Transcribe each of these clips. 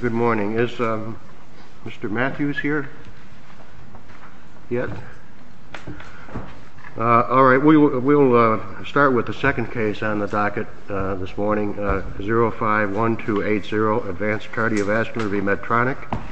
Good morning. Is Mr. Matthews here? Yes? Alright, we will start with the second case on the docket this morning. 051280, Advanced Cardiovascular v. Medtronic. 051280, Advanced Cardiovascular v. Medtronic. Yes,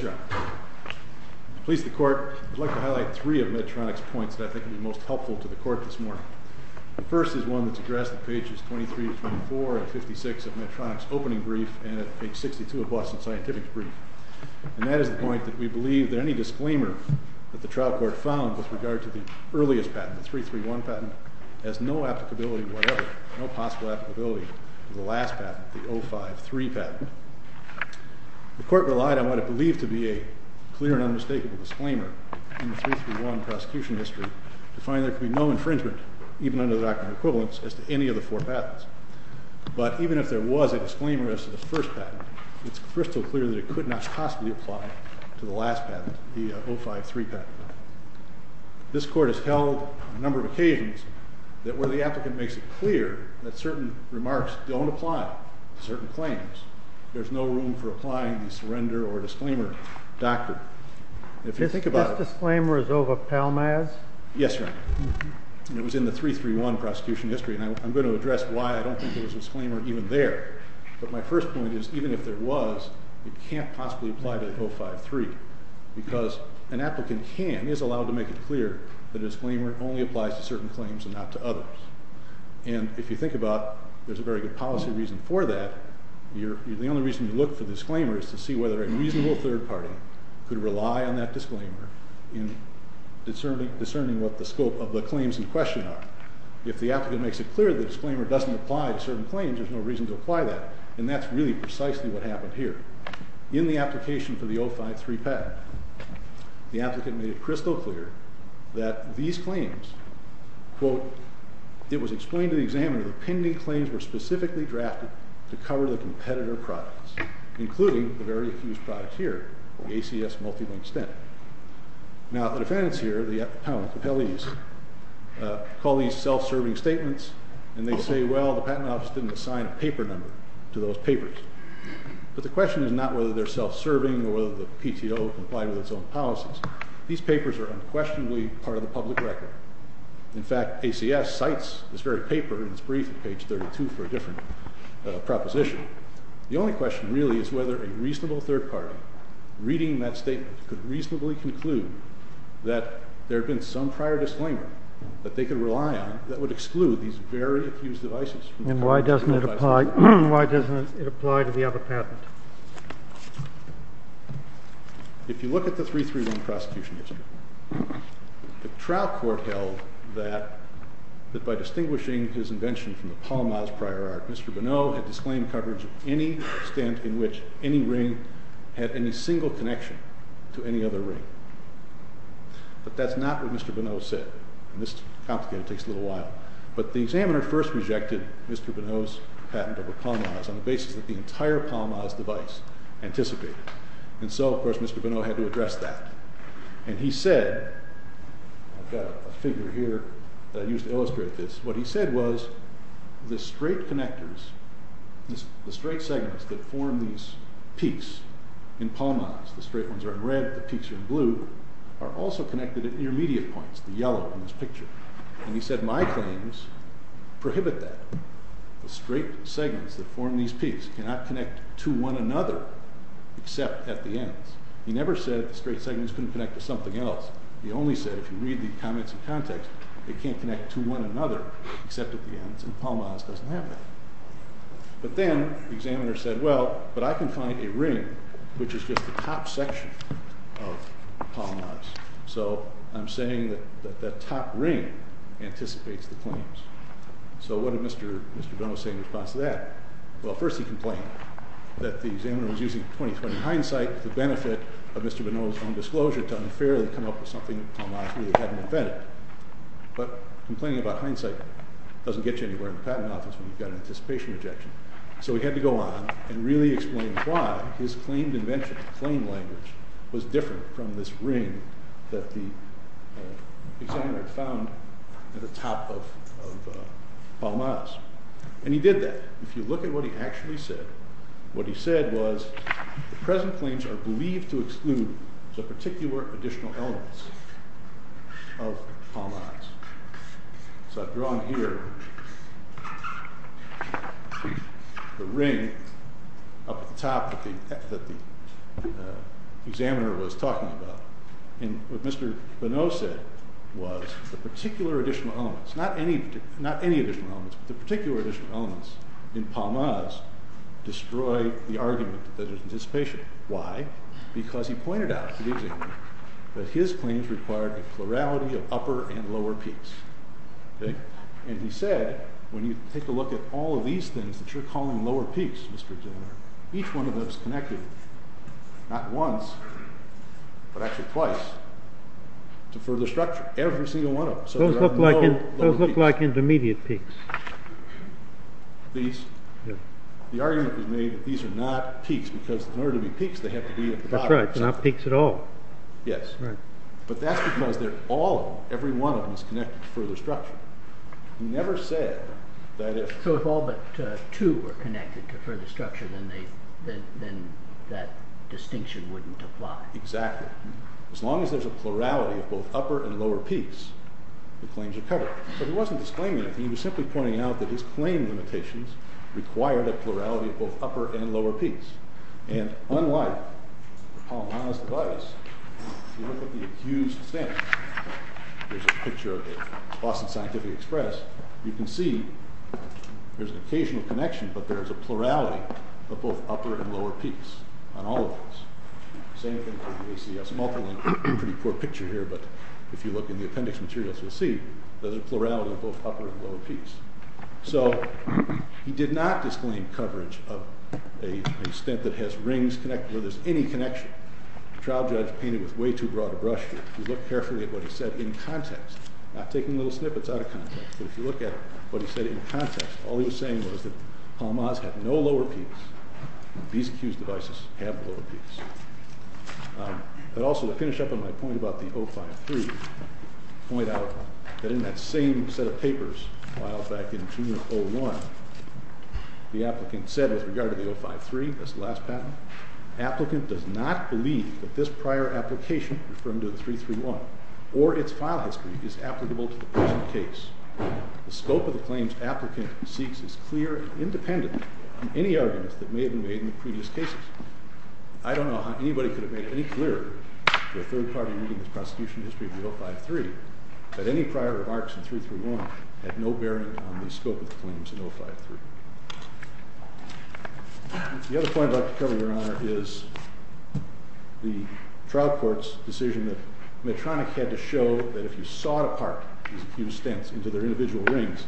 Your Honor. I would like to highlight three of Medtronic's points that I think will be most helpful to the court this morning. The first is one that's addressed in pages 23-24 and 56 of Medtronic's opening brief and at page 62 of Boston Scientific's brief. And that is the point that we believe that any disclaimer that the trial court found with regard to the earliest patent, the 331 patent, has no applicability whatever, no possible applicability to the last patent, the 053 patent. The court relied on what it believed to be a clear and unmistakable disclaimer in the 331 prosecution history to find that there could be no infringement, even under the doctrine of equivalence, as to any of the four patents. But even if there was a disclaimer as to the first patent, it's crystal clear that it could not possibly apply to the last patent, the 053 patent. This court has held on a number of occasions where the applicant makes it clear that certain remarks don't apply to certain claims. There's no room for applying the surrender or disclaimer doctrine. Do you think this disclaimer is over Palmaz? Yes, Your Honor. And it was in the 331 prosecution history. And I'm going to address why I don't think there was a disclaimer even there. But my first point is even if there was, it can't possibly apply to the 053 because an applicant can, is allowed to make it clear that a disclaimer only applies to certain claims and not to others. And if you think about, there's a very good policy reason for that. The only reason you look for a disclaimer is to see whether a reasonable third party could rely on that disclaimer in discerning what the scope of the claims in question are. If the applicant makes it clear the disclaimer doesn't apply to certain claims, there's no reason to apply that. And that's really precisely what happened here. In the application for the 053 patent, the applicant made it crystal clear that these claims, quote, it was explained to the examiner the pending claims were specifically drafted to cover the competitor products, including the very accused product here, the ACS multi-linked stent. Now the defendants here, the appellees, call these self-serving statements, and they say, well, the patent office didn't assign a paper number to those papers. But the question is not whether they're self-serving or whether the PTO complied with its own policies. These papers are unquestionably part of the public record. In fact, ACS cites this very paper in its brief at page 32 for a different proposition. The only question really is whether a reasonable third party reading that statement could reasonably conclude that there had been some prior disclaimer that they could rely on that would exclude these very accused devices. And why doesn't it apply to the other patent? If you look at the 331 prosecution history, the trial court held that by distinguishing his invention from the Paul Maas prior art, Mr. Bonneau had disclaimed coverage of any stent in which any ring had any single connection to any other ring. But that's not what Mr. Bonneau said. And this is complicated. It takes a little while. But the examiner first rejected Mr. Bonneau's patent over Paul Maas on the basis that the entire Paul Maas device anticipated. And so, of course, Mr. Bonneau had to address that. And he said, I've got a figure here that I used to illustrate this. What he said was the straight connectors, the straight segments that form these peaks in Paul Maas, the straight ones are in red, the peaks are in blue, are also connected at intermediate points, the yellow in this picture. And he said my claims prohibit that. The straight segments that form these peaks cannot connect to one another except at the ends. He never said the straight segments couldn't connect to something else. He only said if you read the comments in context, they can't connect to one another except at the ends, and Paul Maas doesn't have that. But then the examiner said, well, but I can find a ring which is just the top section of Paul Maas. So I'm saying that that top ring anticipates the claims. So what did Mr. Bonneau say in response to that? Well, first he complained that the examiner was using 20-20 hindsight for the benefit of Mr. Bonneau's own disclosure to unfairly come up with something that Paul Maas really hadn't invented. But complaining about hindsight doesn't get you anywhere in the patent office when you've got an anticipation rejection. So he had to go on and really explain why his claimed invention, claimed language, was different from this ring that the examiner had found at the top of Paul Maas. And he did that. If you look at what he actually said, what he said was the present claims are believed to exclude the particular additional elements of Paul Maas. So I've drawn here the ring up at the top that the examiner was talking about. And what Mr. Bonneau said was the particular additional elements, not any additional elements, but the particular additional elements in Paul Maas destroy the argument that there's anticipation. Why? Because he pointed out to the examiner that his claims required a plurality of upper and lower peaks. And he said, when you take a look at all of these things that you're calling lower peaks, Mr. Examiner, each one of them is connected, not once, but actually twice, to further structure. Every single one of them. Those look like intermediate peaks. The argument was made that these are not peaks, because in order to be peaks, they have to be at the top. That's right, they're not peaks at all. Yes. Right. But that's because all of them, every one of them, is connected to further structure. He never said that if- So if all but two were connected to further structure, then that distinction wouldn't apply. Exactly. As long as there's a plurality of both upper and lower peaks, the claims are covered. But he wasn't disclaiming anything. He was simply pointing out that his claim limitations required a plurality of both upper and lower peaks. And unlike Paul Maas' device, if you look at the accused's stand, there's a picture of the Boston Scientific Express. You can see there's an occasional connection, but there's a plurality of both upper and lower peaks on all of these. Same thing for the ACS multilink. Pretty poor picture here, but if you look in the appendix materials, you'll see there's a plurality of both upper and lower peaks. So he did not disclaim coverage of a stent that has rings connected, where there's any connection. The trial judge painted with way too broad a brush here. If you look carefully at what he said in context, not taking little snippets out of context, but if you look at what he said in context, all he was saying was that Paul Maas had no lower peaks. These accused devices have lower peaks. But also to finish up on my point about the 053, point out that in that same set of papers filed back in June of 01, the applicant said with regard to the 053, this last patent, applicant does not believe that this prior application, referring to the 331, or its file history is applicable to the present case. The scope of the claims applicant seeks is clear and independent on any arguments that may have been made in the previous cases. I don't know how anybody could have made it any clearer to a third party reading the prosecution history of the 053 that any prior remarks in 331 had no bearing on the scope of the claims in 053. The other point I'd like to cover, Your Honor, is the trial court's decision that Medtronic had to show that if you sawed apart these accused stents into their individual rings,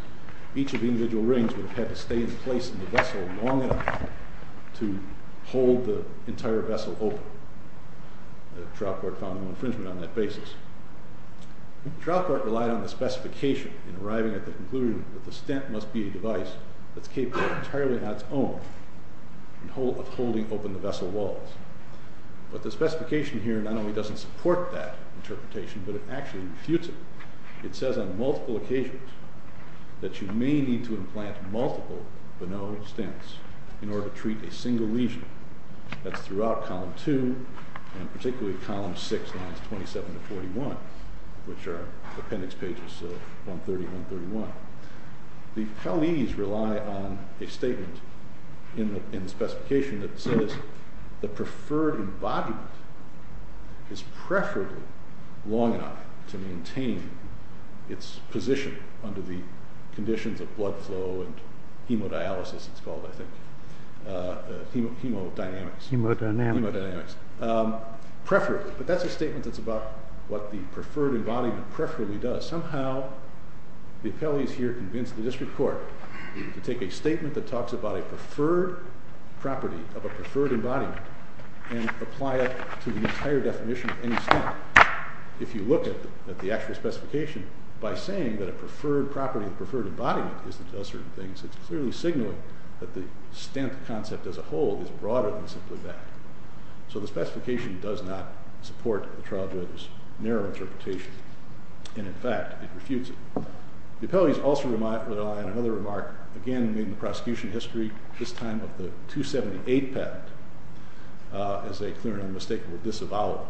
each of the individual rings would have had to stay in place in the vessel long enough to hold the entire vessel open. The trial court found no infringement on that basis. The trial court relied on the specification in arriving at the conclusion that the stent must be a device that's capable entirely on its own of holding open the vessel walls. But the specification here not only doesn't support that interpretation, but it actually refutes it. It says on multiple occasions that you may need to implant multiple Bonneau stents in order to treat a single lesion. That's throughout column 2, and particularly column 6, lines 27 to 41, which are appendix pages 130 and 131. The appellees rely on a statement in the specification that says the preferred embodiment is preferably long enough to maintain its position under the conditions of blood flow and hemodialysis, it's called, I think, hemodynamics. Hemodynamics. Hemodynamics. Preferably. But that's a statement that's about what the preferred embodiment preferably does. Somehow the appellees here convince the district court to take a statement that talks about a preferred property of a preferred embodiment and apply it to the entire definition of any stent. If you look at the actual specification by saying that a preferred property of a preferred embodiment is that it does certain things, it's clearly signaling that the stent concept as a whole is broader than simply that. So the specification does not support the trial judge's narrow interpretation. And, in fact, it refutes it. The appellees also rely on another remark, again, in the prosecution history, this time of the 278 patent, as a clear and unmistakable disavowal.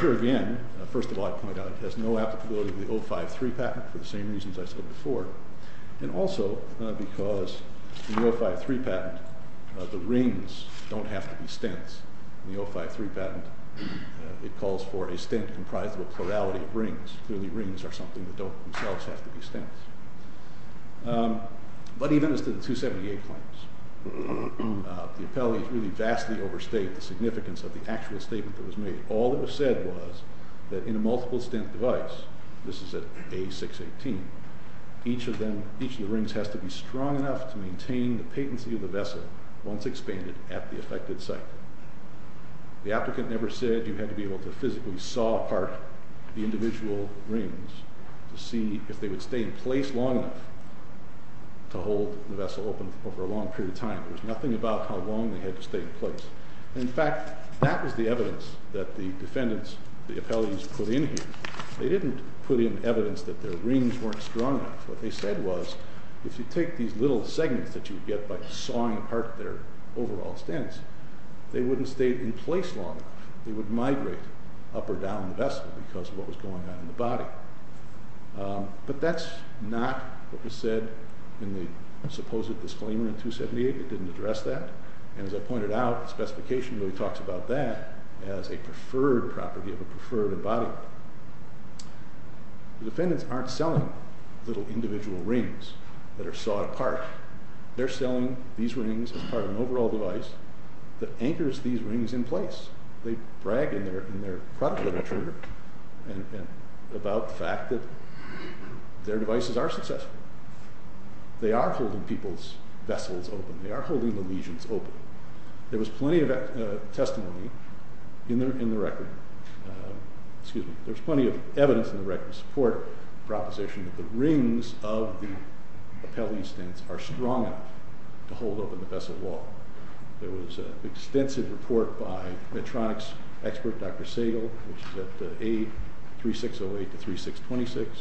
Here again, first of all, I point out it has no applicability to the 053 patent for the same reasons I said before, and also because in the 053 patent the rings don't have to be stents. In the 053 patent it calls for a stent comprised of a plurality of rings. Clearly rings are something that don't themselves have to be stents. But even as to the 278 claims, the appellees really vastly overstate the significance of the actual statement that was made. All that was said was that in a multiple stent device, this is at A618, each of the rings has to be strong enough to maintain the patency of the vessel once expanded at the affected site. The applicant never said you had to be able to physically saw apart the individual rings to see if they would stay in place long enough to hold the vessel open over a long period of time. There was nothing about how long they had to stay in place. In fact, that was the evidence that the defendants, the appellees, put in here. They didn't put in evidence that their rings weren't strong enough. What they said was if you take these little segments that you get by sawing apart their overall stents, they wouldn't stay in place long enough. They would migrate up or down the vessel because of what was going on in the body. But that's not what was said in the supposed disclaimer in 278. It didn't address that. And as I pointed out, the specification really talks about that as a preferred property of a preferred embodiment. The defendants aren't selling little individual rings that are sawed apart. They're selling these rings as part of an overall device that anchors these rings in place. They brag in their product literature about the fact that their devices are successful. They are holding people's vessels open. They are holding the legions open. There was plenty of testimony in the record. Excuse me. There was plenty of evidence in the record to support the proposition that the rings of the appellee's stents are strong enough to hold open the vessel wall. There was an extensive report by Medtronic's expert, Dr. Sagel, which is at A3608 to 3626.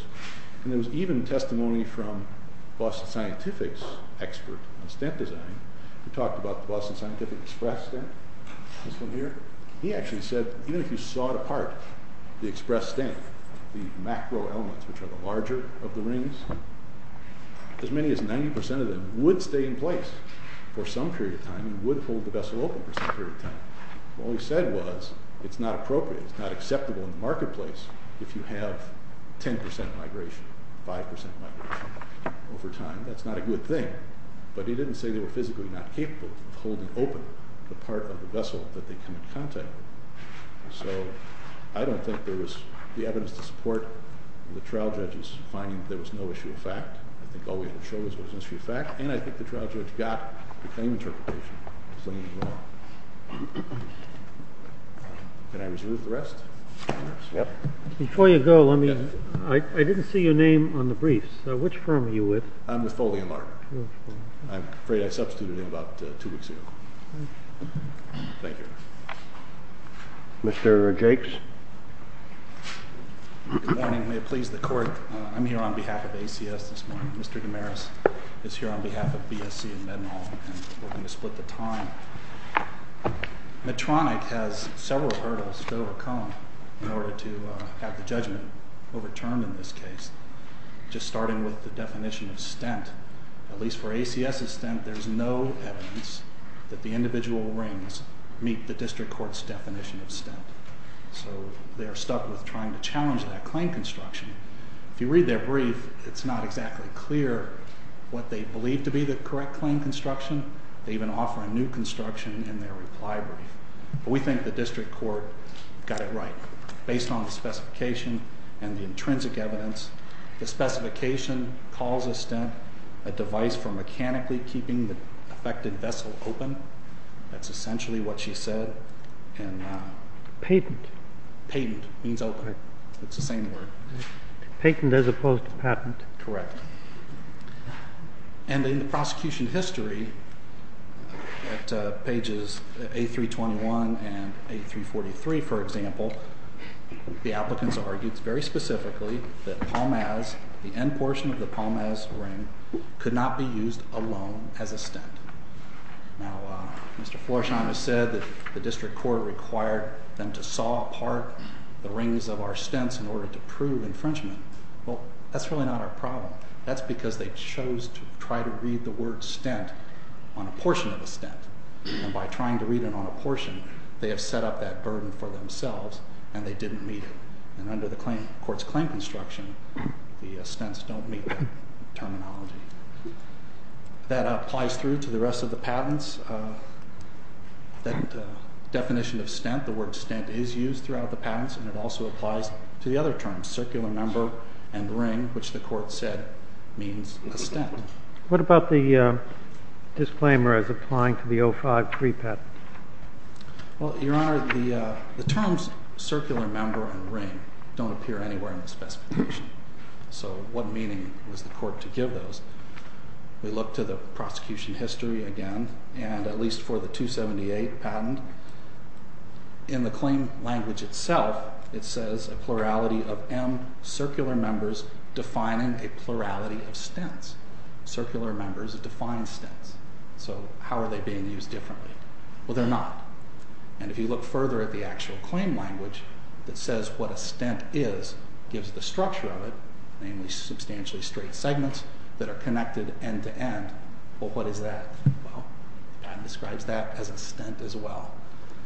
And there was even testimony from Boston Scientific's expert on stent design who talked about the Boston Scientific express stent. This one here. He actually said even if you sawed apart the express stent, the macro elements, which are the larger of the rings, as many as 90% of them would stay in place for some period of time and would hold the vessel open for some period of time. All he said was it's not appropriate. It's not acceptable in the marketplace if you have 10% migration, 5% migration over time. That's not a good thing. But he didn't say they were physically not capable of holding open the part of the vessel that they come in contact with. So I don't think there was the evidence to support the trial judge's finding that there was no issue of fact. I think all we had to show was there was an issue of fact. And I think the trial judge got the claim interpretation. Can I resume the rest? Yep. Before you go, I didn't see your name on the briefs. So which firm are you with? I'm with Foley and Larder. I'm afraid I substituted in about two weeks ago. Thank you. Mr. Jakes? Good morning. May it please the court. I'm here on behalf of ACS this morning. Mr. Damaris is here on behalf of BSC and Med Mall. And we're going to split the time. Medtronic has several hurdles to overcome in order to have the judgment overturned in this case, just starting with the definition of stent. At least for ACS's stent, there's no evidence that the individual rings meet the district court's definition of stent. So they are stuck with trying to challenge that claim construction. If you read their brief, it's not exactly clear what they believe to be the correct claim construction. They even offer a new construction in their reply brief. But we think the district court got it right, based on the specification and the intrinsic evidence. The specification calls a stent a device for mechanically keeping the affected vessel open. That's essentially what she said. Patent. Patent means open. It's the same word. Patent as opposed to patent. Correct. And in the prosecution history, at pages A321 and A343, for example, the applicants argued very specifically that the end portion of the Palmaz ring could not be used alone as a stent. Now, Mr. Florsheim has said that the district court required them to saw apart the rings of our stents in order to prove infringement. Well, that's really not our problem. That's because they chose to try to read the word stent on a portion of a stent. And by trying to read it on a portion, they have set up that burden for themselves, and they didn't meet it. And under the court's claim construction, the stents don't meet terminology. That applies through to the rest of the patents. That definition of stent, the word stent, is used throughout the patents, and it also applies to the other terms, circular member and ring, which the court said means a stent. What about the disclaimer as applying to the 05 pre-patent? Well, Your Honor, the terms circular member and ring don't appear anywhere in the specification. So what meaning was the court to give those? We look to the prosecution history again, and at least for the 278 patent, in the claim language itself, it says a plurality of M circular members defining a plurality of stents. Circular members define stents. So how are they being used differently? Well, they're not. And if you look further at the actual claim language that says what a stent is, it gives the structure of it, namely substantially straight segments that are connected end-to-end. Well, what is that? Well, the patent describes that as a stent as well.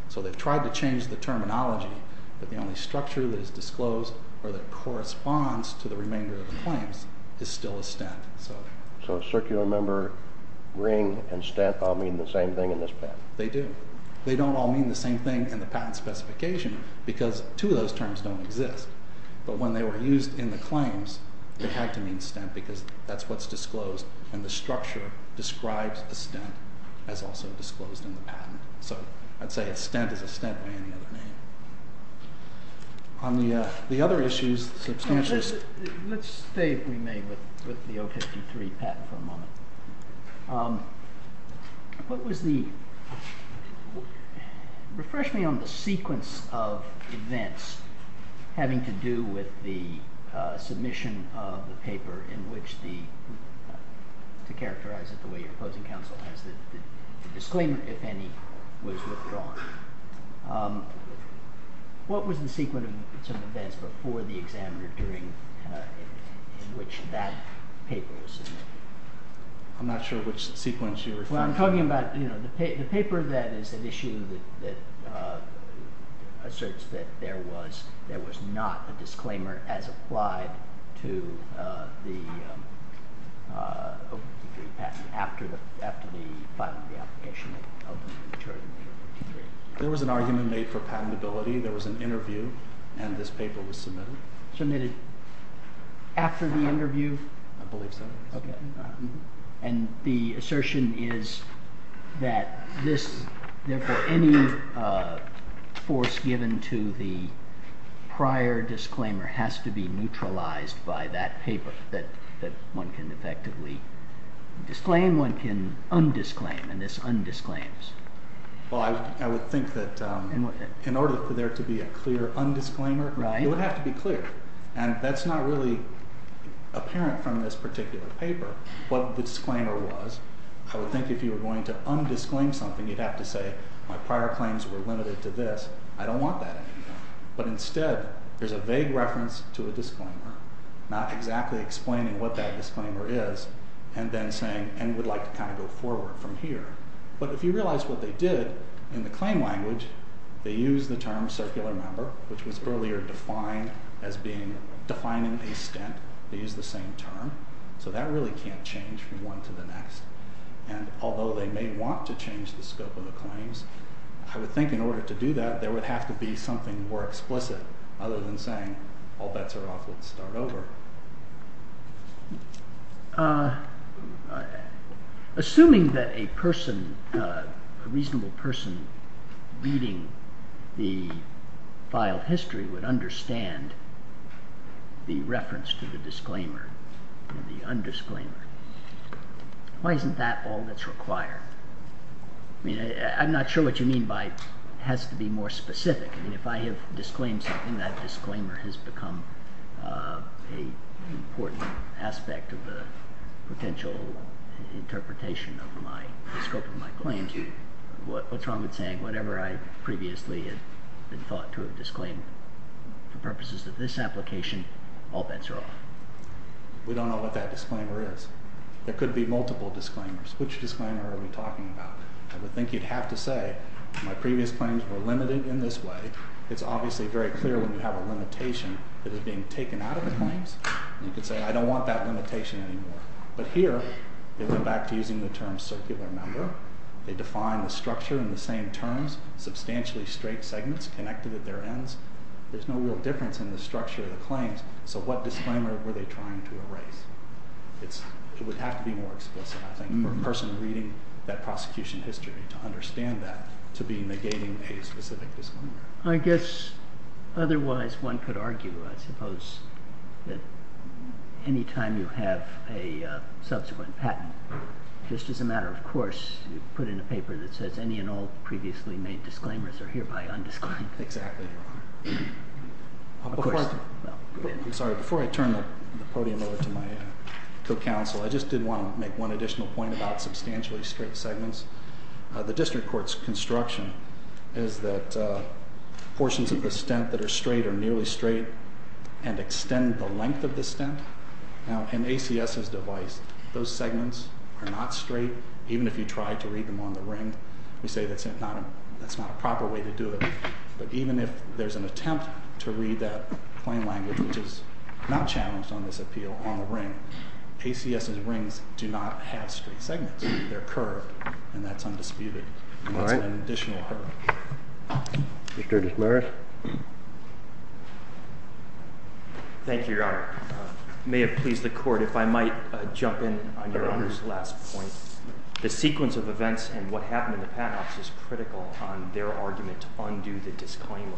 So they've tried to change the terminology, but the only structure that is disclosed or that corresponds to the remainder of the claims is still a stent. So circular member, ring, and stent all mean the same thing in this patent? They do. They don't all mean the same thing in the patent specification because two of those terms don't exist. But when they were used in the claims, they had to mean stent because that's what's disclosed, and the structure describes a stent as also disclosed in the patent. So I'd say a stent is a stent by any other name. On the other issues, substantial stents. Let's stay, if we may, with the 053 patent for a moment. What was the—refresh me on the sequence of events having to do with the submission of the paper in which the—to characterize it the way your opposing counsel has it— the disclaimer, if any, was withdrawn. What was the sequence of events before the examiner doing in which that paper was submitted? I'm not sure which sequence you're referring to. Well, I'm talking about the paper that is an issue that asserts that there was not a disclaimer as applied to the 053 patent after the filing of the application that openly deterred the 053. There was an argument made for patentability. There was an interview, and this paper was submitted. Submitted after the interview? I believe so. And the assertion is that this—therefore, any force given to the prior disclaimer has to be neutralized by that paper that one can effectively disclaim. One can undisclaim, and this undisclaims. Well, I would think that in order for there to be a clear undisclaimer, it would have to be clear. And that's not really apparent from this particular paper, what the disclaimer was. I would think if you were going to undisclaim something, you'd have to say, my prior claims were limited to this. I don't want that anymore. But instead, there's a vague reference to a disclaimer, not exactly explaining what that disclaimer is, and then saying, and would like to kind of go forward from here. But if you realize what they did, in the claim language, they used the term circular member, which was earlier defined as being—defining a stint. They used the same term. So that really can't change from one to the next. And although they may want to change the scope of the claims, I would think in order to do that, there would have to be something more explicit other than saying, all bets are off, let's start over. Assuming that a person, a reasonable person, reading the filed history would understand the reference to the disclaimer and the undisclaimer, why isn't that all that's required? I mean, I'm not sure what you mean by it has to be more specific. I mean, if I have disclaimed something, that disclaimer has become an important aspect of the potential interpretation of the scope of my claims. What's wrong with saying whatever I previously had been thought to have disclaimed for purposes of this application, all bets are off? We don't know what that disclaimer is. There could be multiple disclaimers. Which disclaimer are we talking about? I would think you'd have to say my previous claims were limited in this way. It's obviously very clear when you have a limitation that is being taken out of the claims. You could say I don't want that limitation anymore. But here, they went back to using the term circular number. They defined the structure in the same terms, substantially straight segments connected at their ends. There's no real difference in the structure of the claims. So what disclaimer were they trying to erase? It would have to be more explicit, I think, for a person reading that prosecution history to understand that to be negating a specific disclaimer. I guess otherwise one could argue, I suppose, that any time you have a subsequent patent, just as a matter of course, you put in a paper that says any and all previously made disclaimers are hereby undisclaimed. Exactly. Before I turn the podium over to my co-counsel, I just did want to make one additional point about substantially straight segments. The district court's construction is that portions of the stent that are straight are nearly straight and extend the length of the stent. Now, in ACS's device, those segments are not straight, even if you try to read them on the ring. We say that's not a proper way to do it. But even if there's an attempt to read that plain language, which is not challenged on this appeal on the ring, ACS's rings do not have straight segments. They're curved, and that's undisputed. And that's an additional argument. Mr. Desmarais. Thank you, Your Honor. It may have pleased the court if I might jump in on Your Honor's last point. The sequence of events and what happened in the patent office is critical on their argument to undo the disclaimer.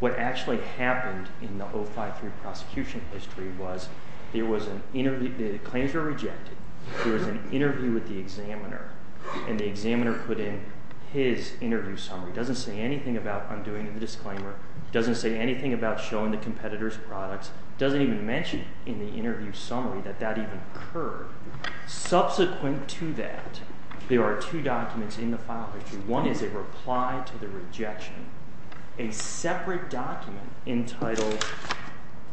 What actually happened in the 053 prosecution history was there was an interview. The claims were rejected. There was an interview with the examiner, and the examiner put in his interview summary. He doesn't say anything about undoing the disclaimer. He doesn't say anything about showing the competitor's products. He doesn't even mention in the interview summary that that even occurred. Subsequent to that, there are two documents in the file. One is a reply to the rejection, a separate document entitled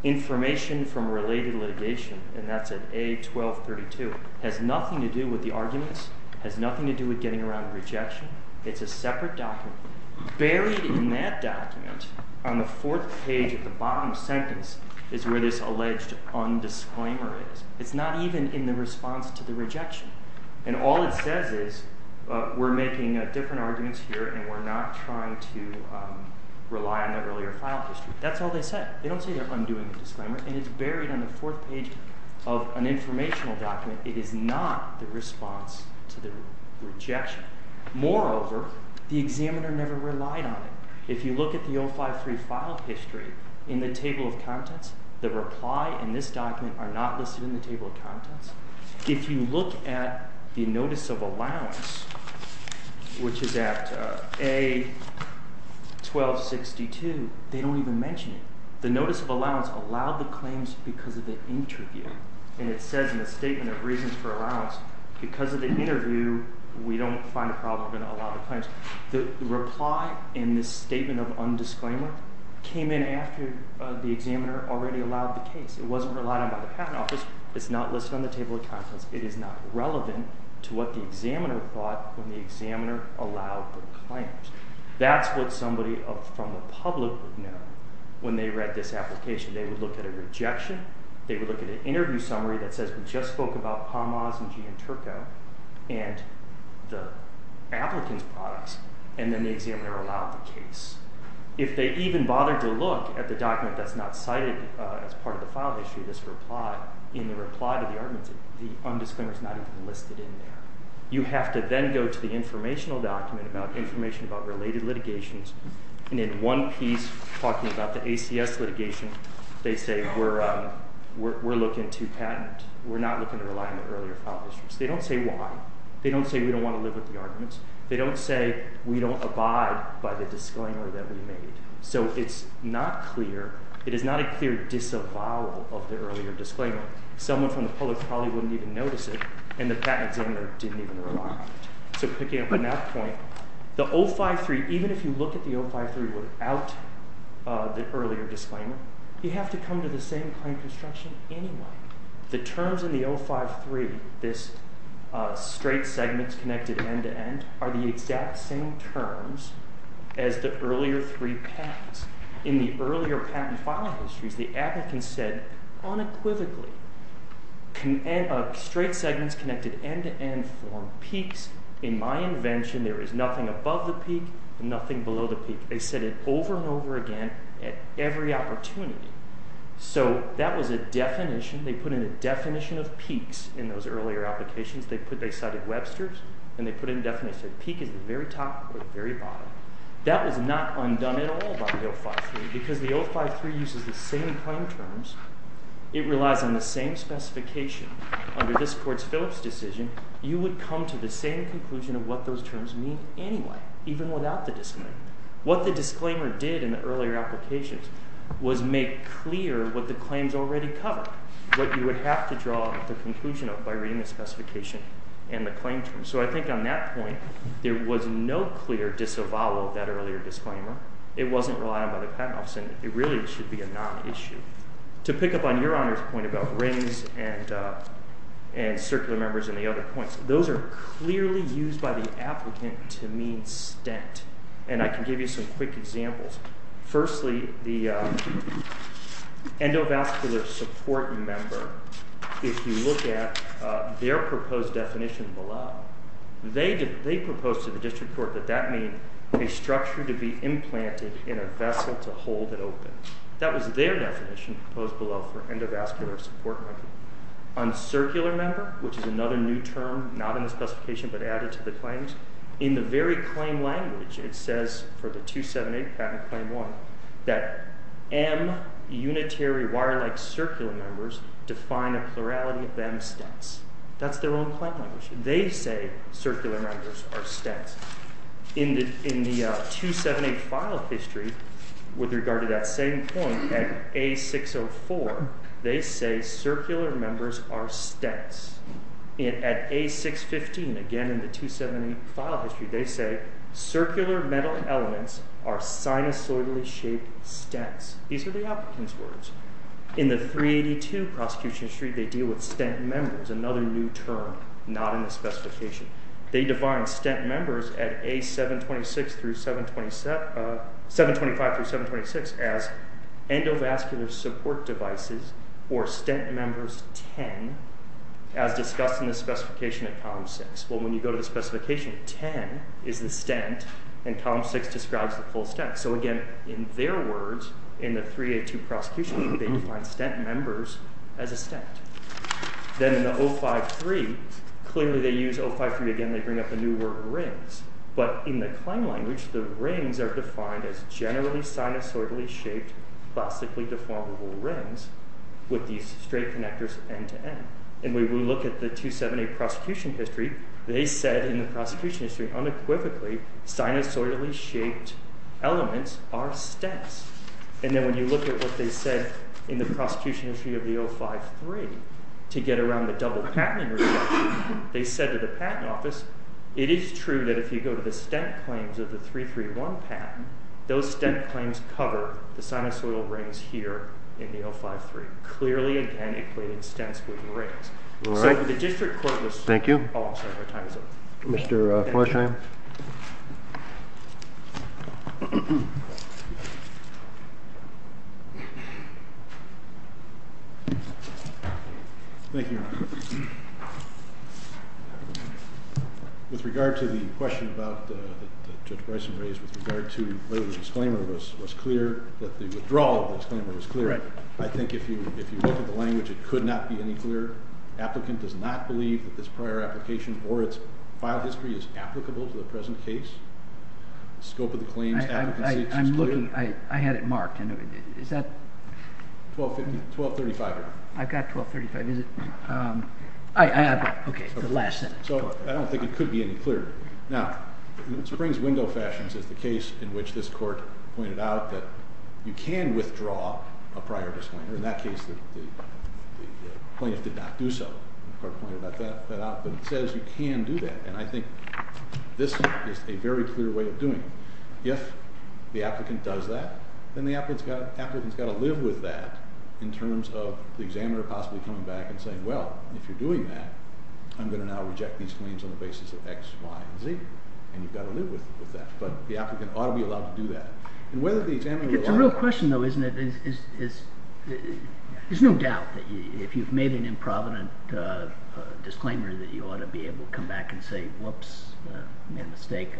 Information from Related Litigation, and that's at A1232. It has nothing to do with the arguments. It has nothing to do with getting around the rejection. It's a separate document. Buried in that document on the fourth page of the bottom sentence is where this alleged undisclaimer is. It's not even in the response to the rejection. And all it says is we're making different arguments here and we're not trying to rely on the earlier file history. That's all they said. They don't say they're undoing the disclaimer, and it's buried on the fourth page of an informational document. It is not the response to the rejection. Moreover, the examiner never relied on it. If you look at the 053 file history in the table of contents, the reply and this document are not listed in the table of contents. If you look at the notice of allowance, which is at A1262, they don't even mention it. The notice of allowance allowed the claims because of the interview, and it says in the statement of reasons for allowance, because of the interview we don't find a problem in allowing the claims. The reply in this statement of undisclaimer came in after the examiner already allowed the case. It wasn't relied on by the Patent Office. It's not listed on the table of contents. It is not relevant to what the examiner thought when the examiner allowed the claims. That's what somebody from the public would know when they read this application. They would look at a rejection. They would look at an interview summary that says we just spoke about Hamas and Gianturco and the applicant's products, and then the examiner allowed the case. If they even bothered to look at the document that's not cited as part of the file history, this reply, in the reply to the arguments, the undisclaimer is not even listed in there. You have to then go to the informational document about information about related litigations, and in one piece talking about the ACS litigation, they say we're looking to patent. We're not looking to rely on the earlier file histories. They don't say why. They don't say we don't want to live with the arguments. They don't say we don't abide by the disclaimer that we made. So it's not clear. It's very disavowal of the earlier disclaimer. Someone from the public probably wouldn't even notice it, and the patent examiner didn't even rely on it. So picking up on that point, the 053, even if you look at the 053 without the earlier disclaimer, you have to come to the same kind of construction anyway. The terms in the 053, this straight segments connected end-to-end, are the exact same terms as the earlier three patents. In the earlier patent file histories, the applicant said unequivocally, straight segments connected end-to-end form peaks. In my invention, there is nothing above the peak and nothing below the peak. They said it over and over again at every opportunity. So that was a definition. They put in a definition of peaks in those earlier applications. They cited Webster's, and they put in a definition. Peak is the very top or the very bottom. That was not undone at all by the 053 because the 053 uses the same claim terms. It relies on the same specification. Under this Court's Phillips decision, you would come to the same conclusion of what those terms mean anyway, even without the disclaimer. What the disclaimer did in the earlier applications was make clear what the claims already cover, what you would have to draw the conclusion of by reading the specification and the claim terms. So I think on that point, there was no clear disavowal of that earlier disclaimer. It wasn't relied on by the patent office, and it really should be a non-issue. To pick up on Your Honor's point about rings and circular members and the other points, those are clearly used by the applicant to mean stent. And I can give you some quick examples. Firstly, the endovascular support member, if you look at their proposed definition below, they proposed to the District Court that that means a structure to be implanted in a vessel to hold it open. That was their definition proposed below for endovascular support. On circular member, which is another new term, not in the specification but added to the claims, in the very claim language, it says for the 278 Patent Claim 1 that M unitary wire-like circular members define a plurality of M stents. That's their own claim language. They say circular members are stents. In the 278 file history, with regard to that same point at A604, they say circular members are stents. At A615, again in the 278 file history, they say circular metal elements are sinusoidally shaped stents. These are the applicant's words. In the 382 prosecution history, they deal with stent members, another new term not in the specification. They define stent members at A725-726 as endovascular support devices or stent members 10 as discussed in the specification at Column 6. When you go to the specification, 10 is the stent, and Column 6 describes the full stent. Again, in their words, in the 382 prosecution, they define stent members as a stent. Then in the 053, clearly they use 053 again. They bring up a new word, rings. But in the claim language, the rings are defined as generally sinusoidally shaped, plastically deformable rings with these straight connectors end-to-end. And when we look at the 278 prosecution history, they said in the prosecution history unequivocally sinusoidally shaped elements are stents. And then when you look at what they said in the prosecution history of the 053 to get around the double-patenting reduction, they said to the patent office, it is true that if you go to the stent claims of the 331 patent, those stent claims cover the sinusoidal rings here in the 053. Clearly, again, it created stents with the rings. So the district court was all sabotage. Thank you. Mr. Forsheim. Thank you. With regard to the question that Judge Bryson raised with regard to whether the disclaimer was clear, that the withdrawal of the disclaimer was clear, I think if you look at the language, it could not be any clearer. Applicant does not believe that this prior application or its file history is applicable to the present case. The scope of the claim's advocacy is clear. I had it marked. Is that? 1235. I've got 1235. Is it? Okay, the last sentence. So I don't think it could be any clearer. Now, in Springs window fashions, as the case in which this court pointed out, you can withdraw a prior disclaimer. In that case, the plaintiff did not do so. The court pointed that out, but it says you can do that, and I think this is a very clear way of doing it. If the applicant does that, then the applicant's got to live with that in terms of the examiner possibly coming back and saying, well, if you're doing that, I'm going to now reject these claims on the basis of X, Y, and Z, and you've got to live with that. But the applicant ought to be allowed to do that. It's a real question, though, isn't it? There's no doubt that if you've made an improvident disclaimer that you ought to be able to come back and say, whoops, I made a mistake,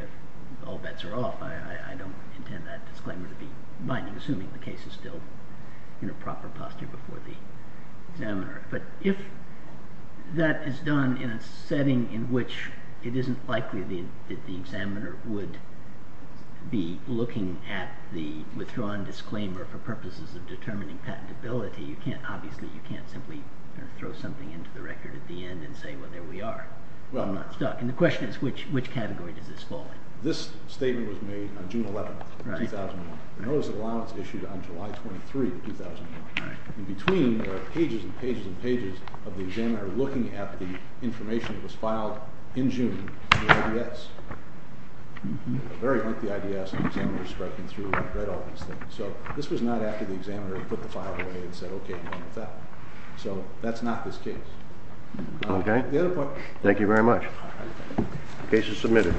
all bets are off. I don't intend that disclaimer to be binding, assuming the case is still in a proper posture before the examiner. But if that is done in a setting in which it isn't likely that the examiner would be looking at the withdrawn disclaimer for purposes of determining patentability, obviously you can't simply throw something into the record at the end and say, well, there we are. I'm not stuck. And the question is, which category does this fall in? This statement was made on June 11, 2001. The notice of allowance issued on July 23, 2001. In between, there are pages and pages and pages of the examiner looking at the information that was filed in June in the IDS. A very lengthy IDS, and the examiner's striking through and read all these things. So this was not after the examiner had put the file away and said, okay, no more of that. So that's not this case. Okay. Thank you very much. The case is submitted.